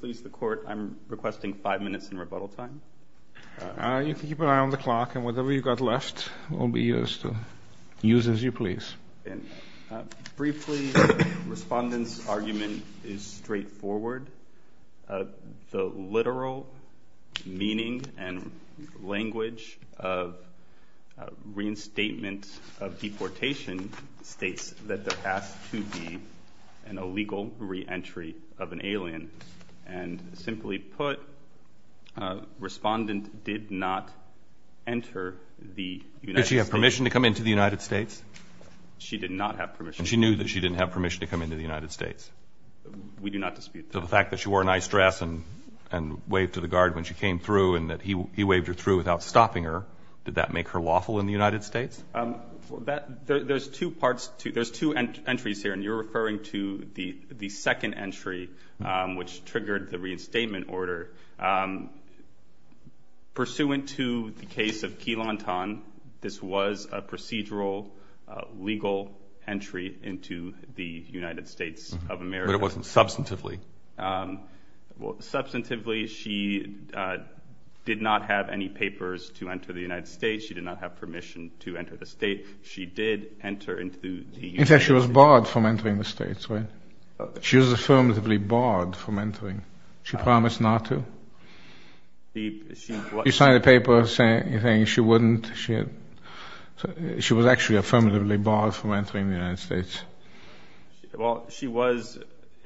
Please, the court, I'm requesting five minutes in rebuttal time. You can keep an eye on the clock, and whatever you've got left will be used as you please. Briefly, the respondent's argument is straightforward. The literal meaning and language of reinstatement of deportation states that there has to be an illegal reentry of an alien. And simply put, respondent did not enter the United States. Did she have permission to come into the United States? She did not have permission. And she knew that she didn't have permission to come into the United States? We do not dispute that. So the fact that she wore an ice dress and waved to the guard when she came through and that he waved her through without stopping her, did that make her lawful in the United States? There's two entries here, and you're referring to the second entry, which triggered the reinstatement order. Pursuant to the case of Key Lantan, this was a procedural legal entry into the United States of America. But it wasn't substantively? Substantively, she did not have any papers to enter the United States. She did not have permission to enter the state. She did enter into the United States. In fact, she was barred from entering the states, right? She was affirmatively barred from entering. She promised not to? She signed a paper saying she wouldn't. She was actually affirmatively barred from entering the United States. Well, she was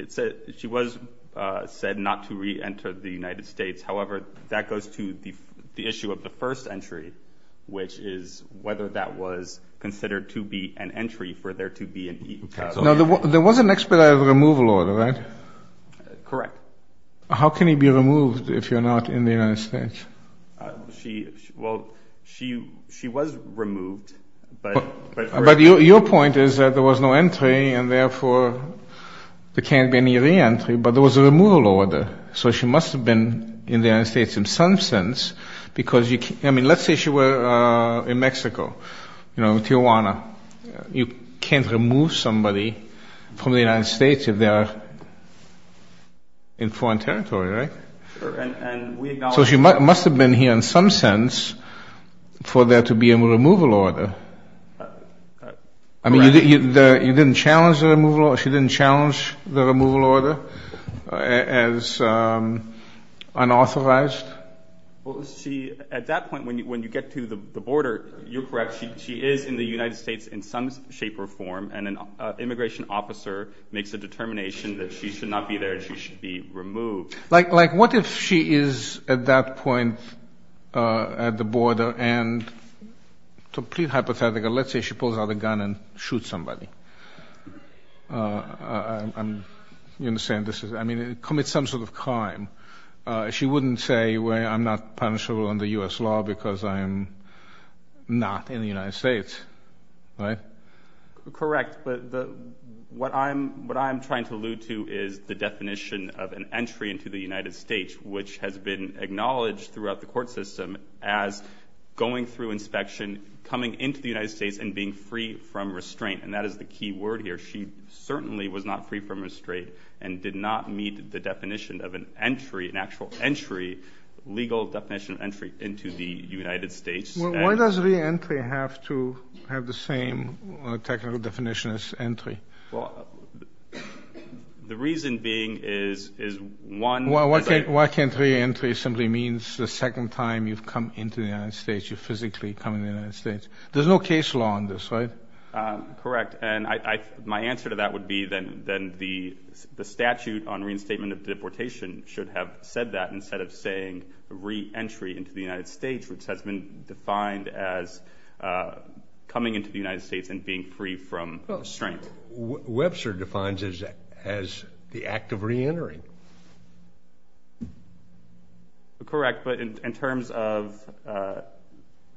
said not to re-enter the United States. However, that goes to the issue of the first entry, which is whether that was considered to be an entry for there to be an E. There was an expedited removal order, right? Correct. How can you be removed if you're not in the United States? Well, she was removed, but... But your point is that there was no entry, and therefore there can't be any re-entry, but there was a removal order. So she must have been in the United States in some sense, because you can't... I mean, let's say she were in Mexico, you know, Tijuana. You can't remove somebody from the United States if they are in foreign territory, right? Sure, and we acknowledge... So she must have been here in some sense for there to be a removal order. Correct. I mean, you didn't challenge the removal order? She didn't challenge the removal order as unauthorized? Well, she... At that point, when you get to the border, you're correct. She is in the United States in some shape or form, and an immigration officer makes a determination that she should not be there and she should be removed. Like, what if she is at that point at the border and, to plead hypothetical, let's say she pulls out a gun and shoots somebody? I'm... You understand this is... I mean, it commits some sort of crime. She wouldn't say, well, I'm not punishable under U.S. law because I am not in the United States, right? Correct, but what I'm trying to allude to is the definition of an entry into the United States, which has been acknowledged throughout the court system as going through inspection, coming into the United States, and being free from restraint. And that is the key word here. She certainly was not free from restraint and did not meet the definition of an entry, an actual entry, legal definition of entry into the United States. Why does re-entry have to have the same technical definition as entry? Well, the reason being is one... Why can't re-entry simply mean the second time you've come into the United States, you physically come into the United States? There's no case law on this, right? Correct, and my answer to that would be then the statute on reinstatement of deportation should have said that instead of saying re-entry into the United States, which has been defined as coming into the United States and being free from restraint. Webster defines it as the act of re-entering. Correct, but in terms of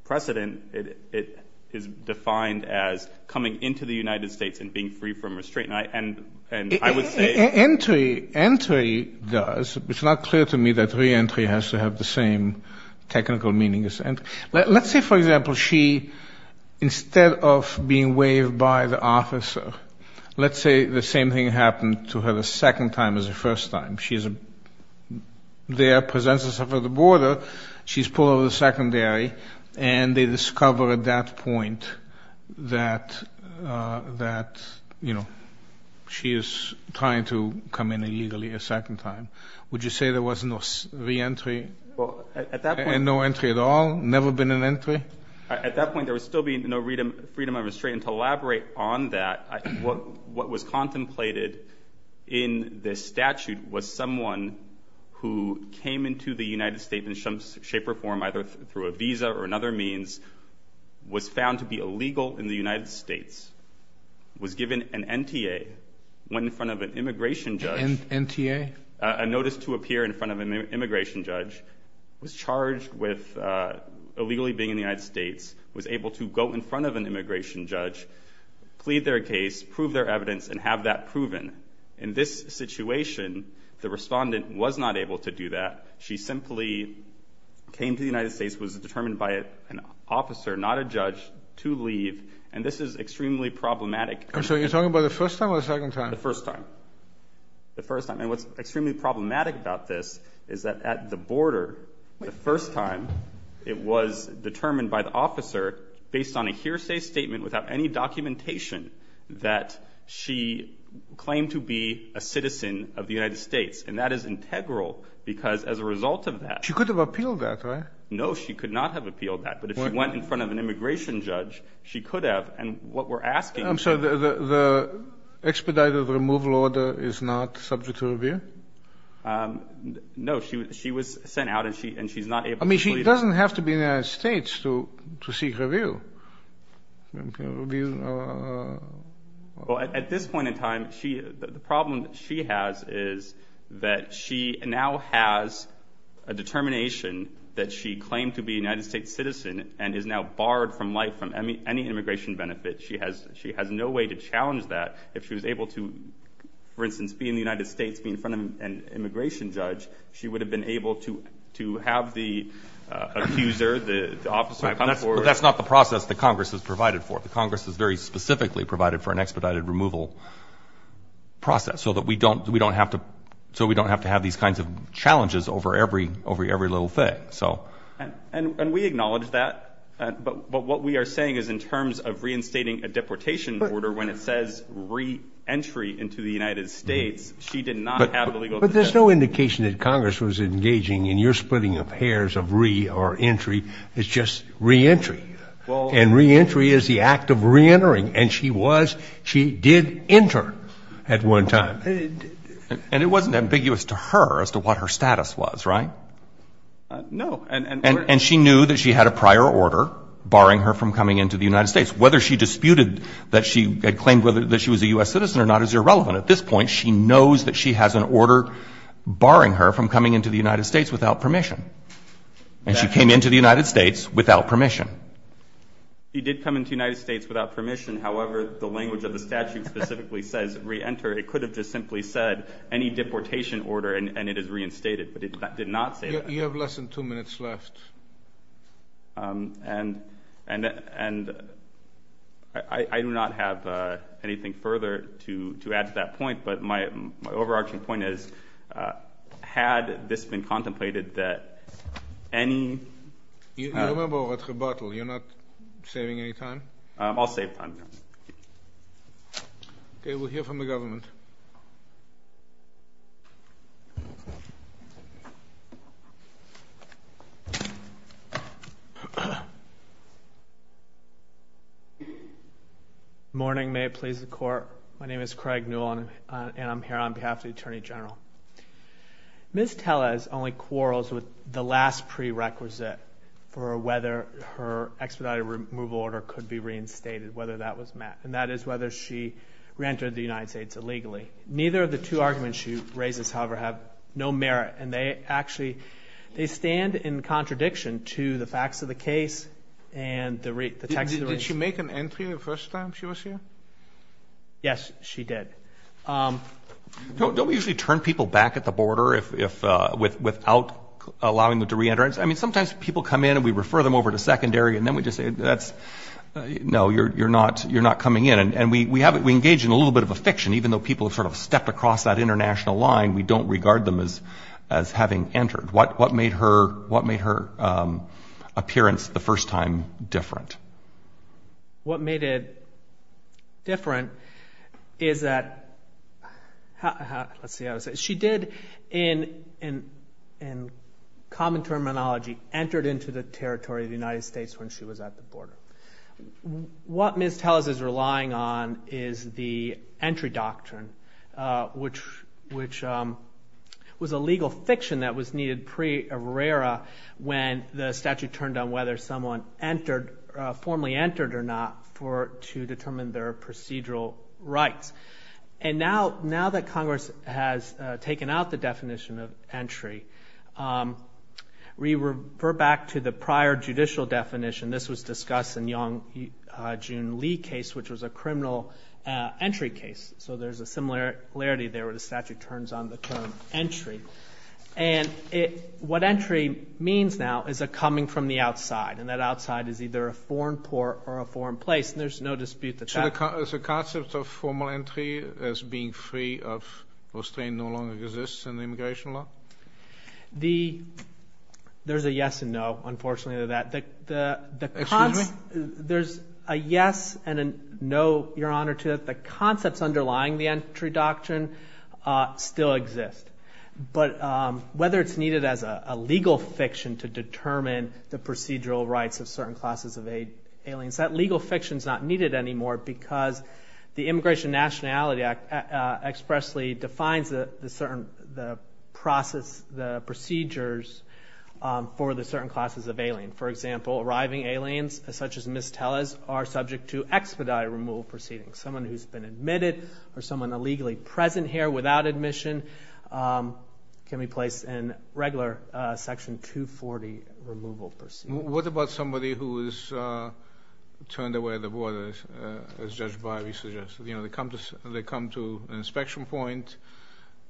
precedent, it is defined as coming into the United States and being free from restraint, and I would say... Entry does. It's not clear to me that re-entry has to have the same technical meaning as entry. Let's say, for example, she, instead of being waived by the officer, let's say the same thing happened to her the second time as the first time. She's there, presents herself at the border, she's pulled over the secondary, and they discover at that point that, you know, she is trying to come in illegally a second time. Would you say there was no re-entry? Well, at that point... And no entry at all? Never been an entry? At that point, there would still be no freedom of restraint, and to elaborate on that, what was contemplated in this statute was someone who came into the United States in some shape or form, either through a visa or another means, was found to be illegal in the United States, was given an NTA, went in front of an immigration judge... NTA? A notice to appear in front of an immigration judge, was charged with illegally being in the United States, was able to go in front of an immigration judge, plead their case, prove their evidence, and have that proven. In this situation, the respondent was not able to do that. She simply came to the United States, was determined by an officer, not a judge, to leave, and this is extremely problematic. So you're talking about the first time or the second time? The first time. The first time. And what's extremely problematic about this is that at the border, the first time, it was determined by the officer, based on a hearsay statement without any documentation, that she claimed to be a citizen of the United States, and that is integral, because as a result of that... She could have appealed that, right? No, she could not have appealed that, but if she went in front of an immigration judge, she could have, and what we're asking... I'm sorry, the expedited removal order is not subject to review? No, she was sent out, and she's not able to plead... I mean, she doesn't have to be in the United States to seek review. Well, at this point in time, the problem that she has is that she now has a determination that she claimed to be a United States citizen, and is now barred from life from any immigration benefit. She has no way to challenge that. If she was able to, for instance, be in the United States, be in front of an immigration judge, she would have been able to have the accuser, the officer come forward... That's not the process that Congress has provided for. The Congress has very specifically provided for an expedited removal process, so that we don't have to have these kinds of challenges over every little thing. And we acknowledge that, but what we are saying is in terms of reinstating a deportation order, when it says re-entry into the United States, she did not have the legal... But there's no indication that Congress was engaging in your splitting of hairs of re- or entry, it's just re-entry. And re-entry is the act of re-entering, and she was, she did enter at one time. And it wasn't ambiguous to her as to what her status was, right? No. And she knew that she had a prior order barring her from coming into the United States. Whether she disputed that she had claimed that she was a U.S. citizen or not is irrelevant. At this point, she knows that she has an order barring her from coming into the United States without permission. And she came into the United States without permission. She did come into the United States without permission. However, the language of the statute specifically says re-enter. It could have just simply said any deportation order and it is reinstated. But it did not say that. You have less than two minutes left. And I do not have anything further to add to that point. But my overarching point is, had this been contemplated that any... You remember what rebuttal, you're not saving any time? I'll save time. Okay, we'll hear from the government. Morning, may it please the court. My name is Craig Newell and I'm here on behalf of the Attorney General. Ms. Tellez only quarrels with the last prerequisite for whether her expedited removal order could be reinstated, whether that was met. And that is whether she re-entered the United States illegally. Neither of the two arguments she raises, however, have no merit. And they actually, they stand in contradiction to the facts of the case and the text of the... Did she make an entry the first time she was here? Yes, she did. Don't we usually turn people back at the border without allowing them to re-enter? I mean, sometimes people come in and we refer them over to secondary and then we just say, no, you're not coming in. And we engage in a little bit of a fiction, even though people have sort of stepped across that international line, we don't regard them as having entered. What made her appearance the first time different? What made it different is that... Let's see how to say it. She did, in common terminology, entered into the territory of the United States when she was at the border. What Ms. Telles is relying on is the entry doctrine, which was a legal fiction that was needed pre-errora when the statute turned down whether someone formally entered or not to determine their procedural rights. And now that Congress has taken out the definition of entry, we refer back to the prior judicial definition. This was discussed in the Yong Jun Lee case, which was a criminal entry case. So there's a similarity there where the statute turns on the term entry. And what entry means now is a coming from the outside, and that outside is either a foreign port or a foreign place, and there's no dispute that that... So the concept of formal entry as being free of restraint no longer exists in immigration law? There's a yes and no, unfortunately, to that. Excuse me? There's a yes and a no, Your Honor, to that. The concepts underlying the entry doctrine still exist. But whether it's needed as a legal fiction to determine the procedural rights of certain classes of aliens, that legal fiction's not needed anymore because the Immigration Nationality Act expressly defines the procedures for the certain classes of alien. For example, arriving aliens, such as Ms. Tellez, are subject to expedited removal proceedings. Someone who's been admitted or someone illegally present here without admission can be placed in regular Section 240 removal proceedings. What about somebody who is turned away at the border, as Judge Bivey suggested? They come to an inspection point,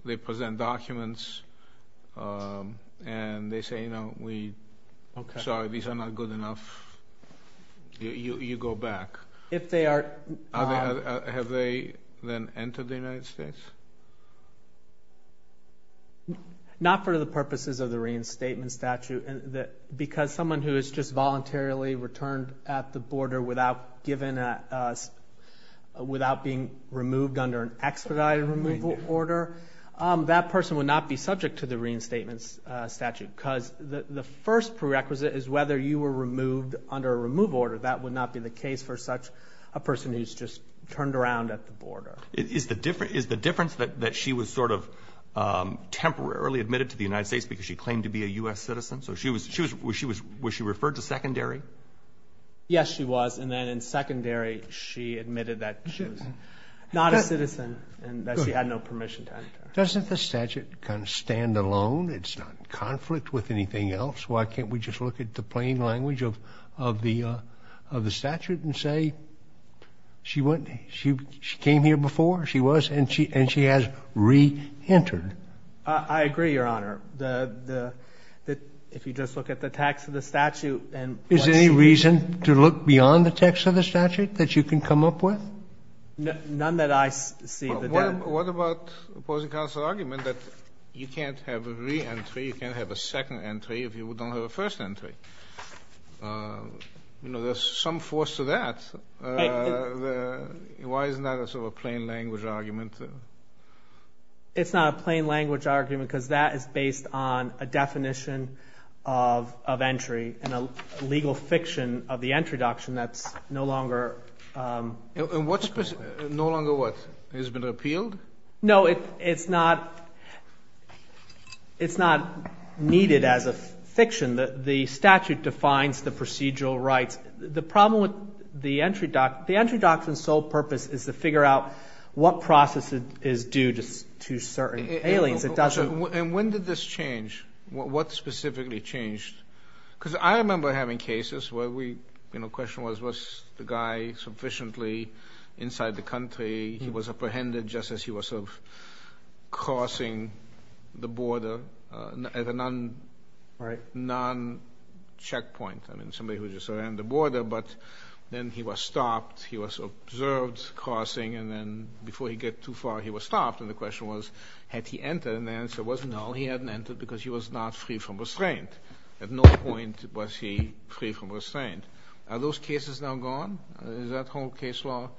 they present documents, and they say, sorry, these are not good enough, you go back. If they are... Have they then entered the United States? Not for the purposes of the reinstatement statute, because someone who is just voluntarily returned at the border without being removed under an expedited removal order, that person would not be subject to the reinstatement statute because the first prerequisite is whether you were removed under a removal order. That would not be the case for such a person who's just turned around at the border. Is the difference that she was sort of temporarily admitted to the United States because she claimed to be a U.S. citizen? Was she referred to secondary? Yes, she was, and then in secondary, she admitted that she was not a citizen and that she had no permission to enter. Doesn't the statute kind of stand alone? It's not in conflict with anything else. Why can't we just look at the plain language of the statute and say, she came here before, she was, and she has re-entered? I agree, Your Honor. If you just look at the text of the statute and what she did. Is there any reason to look beyond the text of the statute that you can come up with? None that I see. What about the opposing counsel's argument that you can't have a re-entry, you can't have a second entry if you don't have a first entry? There's some force to that. Why isn't that sort of a plain language argument? It's not a plain language argument because that is based on a definition of entry and a legal fiction of the entry doctrine that's no longer... No longer what? Has it been repealed? No, it's not needed as a fiction. The statute defines the procedural rights. The problem with the entry doctrine, the entry doctrine's sole purpose is to figure out what process is due to certain aliens. It doesn't... And when did this change? What specifically changed? Because I remember having cases where the question was, was the guy sufficiently inside the country, he was apprehended just as he was crossing the border at a non-checkpoint. I mean, somebody who just ran the border, but then he was stopped, he was observed crossing, and then before he got too far, he was stopped. And the question was, had he entered? And the answer was, no, he hadn't entered because he was not free from restraint. At no point was he free from restraint. Are those cases now gone? Is that whole case law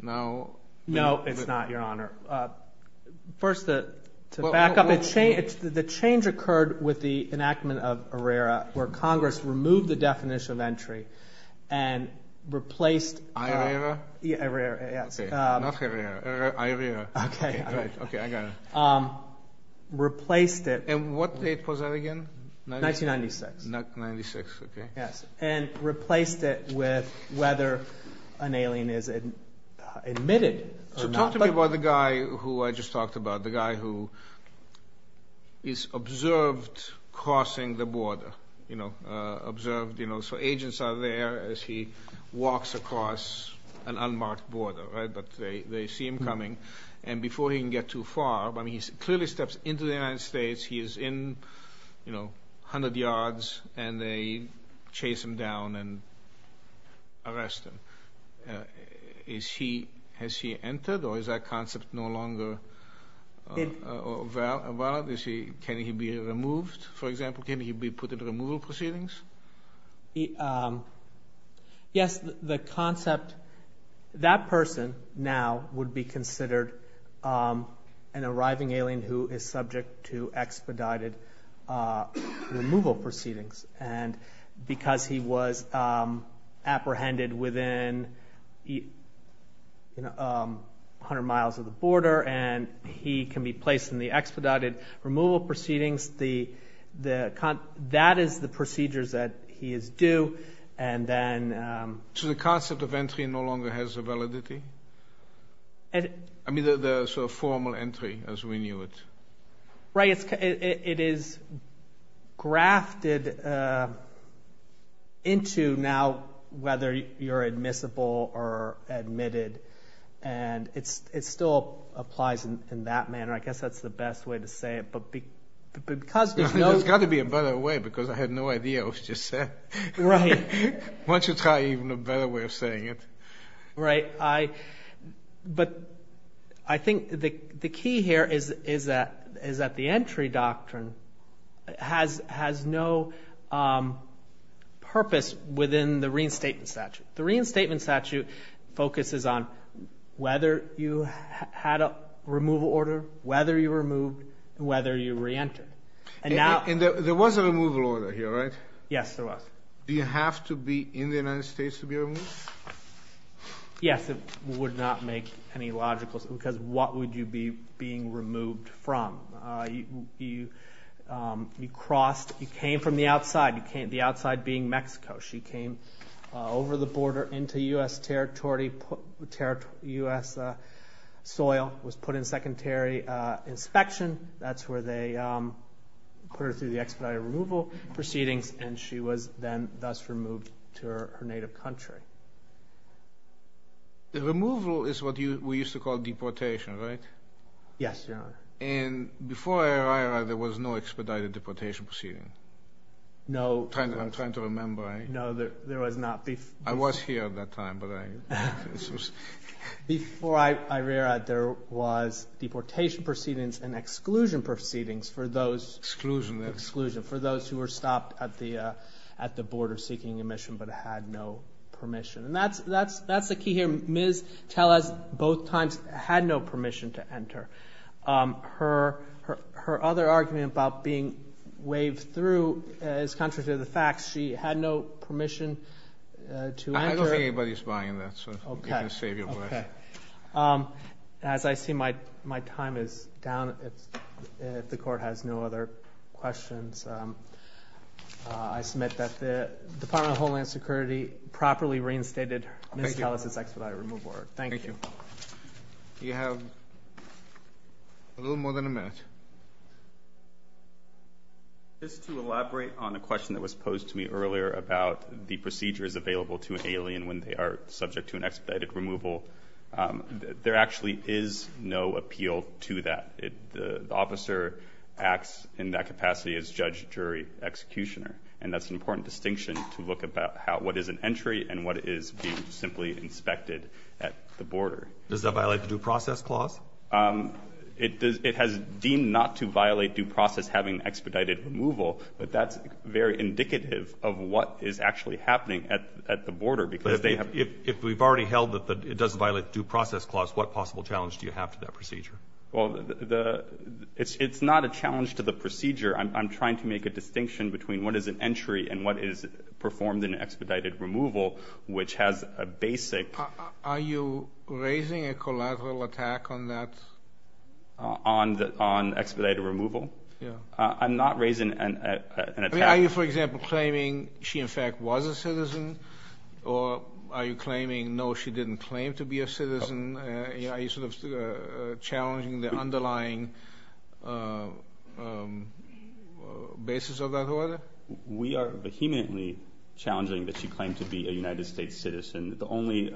now... No, it's not, Your Honor. First, to back up, the change occurred with the enactment of Herrera where Congress removed the definition of entry and replaced... Herrera? Herrera, yes. Okay, not Herrera, Herrera, Herrera. Okay. Okay, I got it. Replaced it... And what date was that again? 1996. 1996, okay. Yes, and replaced it with whether an alien is admitted or not. So talk to me about the guy who I just talked about, the guy who is observed crossing the border, observed, so agents are there as he walks across an unmarked border, but they see him coming, and before he can get too far, he clearly steps into the United States, he is in 100 yards, and they chase him down and arrest him. Has he entered, or is that concept no longer valid? Can he be removed, for example? Can he be put into removal proceedings? Yes, the concept... That person now would be considered an arriving alien who is subject to expedited removal proceedings, and because he was apprehended within 100 miles of the border, and he can be placed in the expedited removal proceedings, that is the procedure that he is due, and then... So the concept of entry no longer has a validity? I mean the formal entry as we knew it. Right, it is grafted into now whether you're admissible or admitted, and it still applies in that manner. I guess that's the best way to say it, but because... There's got to be a better way, because I had no idea what you just said. Why don't you try even a better way of saying it? Right, but I think the key here is that the entry doctrine has no purpose within the reinstatement statute. The reinstatement statute focuses on whether you had a removal order, whether you were removed, whether you re-entered. And there was a removal order here, right? Yes, there was. Do you have to be in the United States to be removed? Yes, it would not make any logical sense, because what would you be being removed from? You came from the outside, the outside being Mexico. She came over the border into U.S. territory, U.S. soil, was put in secondary inspection, that's where they put her through the expedited removal proceedings, and she was then thus removed to her native country. The removal is what we used to call deportation, right? Yes, Your Honor. And before IRERA, there was no expedited deportation proceeding? No. I'm trying to remember. No, there was not. I was here at that time, but I... Before IRERA, there was deportation proceedings and exclusion proceedings for those... Exclusion. Exclusion, for those who were stopped at the border seeking admission but had no permission. And that's the key here. Ms. Tellez, both times, had no permission to enter. Her other argument about being waved through is contrary to the facts. She had no permission to enter. I don't think anybody's buying that, so you can save your breath. As I see my time is down, if the Court has no other questions, I submit that the Department of Homeland Security properly reinstated Ms. Tellez's expedited removal order. Thank you. You have a little more than a minute. Just to elaborate on a question that was posed to me earlier about the procedures available to an alien when they are subject to an expedited removal, there actually is no appeal to that. The officer acts in that capacity as judge, jury, executioner. And that's an important distinction to look about what is an entry and what is being simply inspected at the border. Does that violate the due process clause? It has deemed not to violate due process having expedited removal, but that's very indicative of what is actually happening at the border because they have... If we've already held that it doesn't violate the due process clause, what possible challenge do you have to that procedure? It's not a challenge to the procedure. I'm trying to make a distinction between what is an entry and what is performed in expedited removal, which has a basic... Are you raising a collateral attack on that? On expedited removal? Yeah. I'm not raising an attack. Are you, for example, claiming she in fact was a citizen? Or are you claiming, no, she didn't claim to be a citizen? Are you sort of challenging the underlying basis of that order? We are vehemently challenging that she claimed to be a United States citizen. The only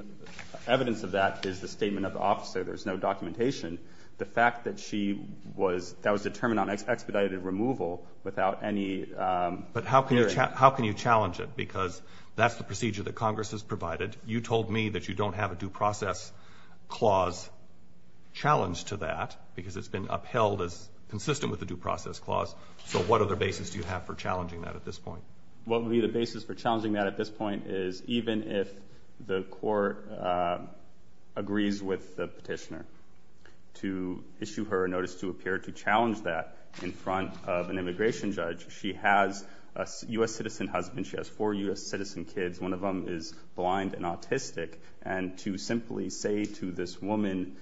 evidence of that is the statement of the officer. There's no documentation. The fact that she was... That was determined on expedited removal without any... But how can you challenge it? Because that's the procedure that Congress has provided. You told me that you don't have a due process clause challenged to that because it's been upheld as consistent with the due process clause. So what other basis do you have for challenging that at this point? What would be the basis for challenging that at this point is even if the court agrees with the petitioner to issue her a notice to appear to challenge that in front of an immigration judge. She has a U.S. citizen husband. She has four U.S. citizen kids. One of them is blind and autistic. And to simply say to this woman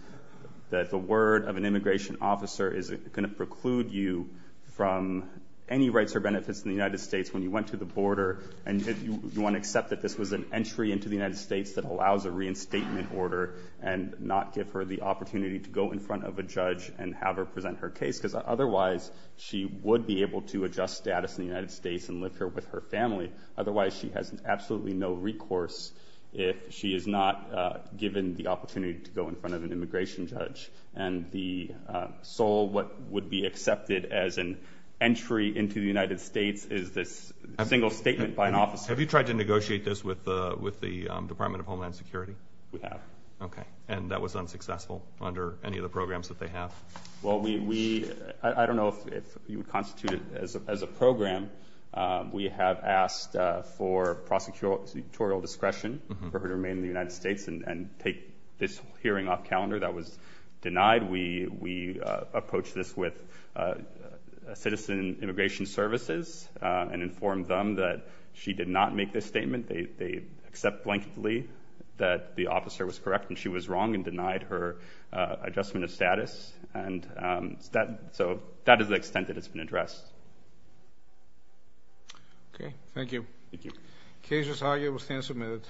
that the word of an immigration officer is going to preclude you from any rights or benefits in the United States when you went to the border. And you want to accept that this was an entry into the United States that allows a reinstatement order and not give her the opportunity to go in front of a judge and have her present her case. Because otherwise, she would be able to adjust status in the United States and live here with her family. Otherwise, she has absolutely no recourse if she is not given the opportunity to go in front of an immigration judge. And the sole what would be accepted as an entry into the United States is this single statement by an officer. Have you tried to negotiate this with the Department of Homeland Security? We have. Okay. And that was unsuccessful under any of the programs that they have? Well, I don't know if you would constitute it as a program. We have asked for prosecutorial discretion for her to remain in the United States and take this hearing off calendar. That was denied. We approached this with Citizen Immigration Services and informed them that she did not make this statement. They accept blankly that the officer was correct and she was wrong and denied her adjustment of status. And so that is the extent that it's been addressed. Okay. Thank you. Thank you. The case is argued and will stand submitted.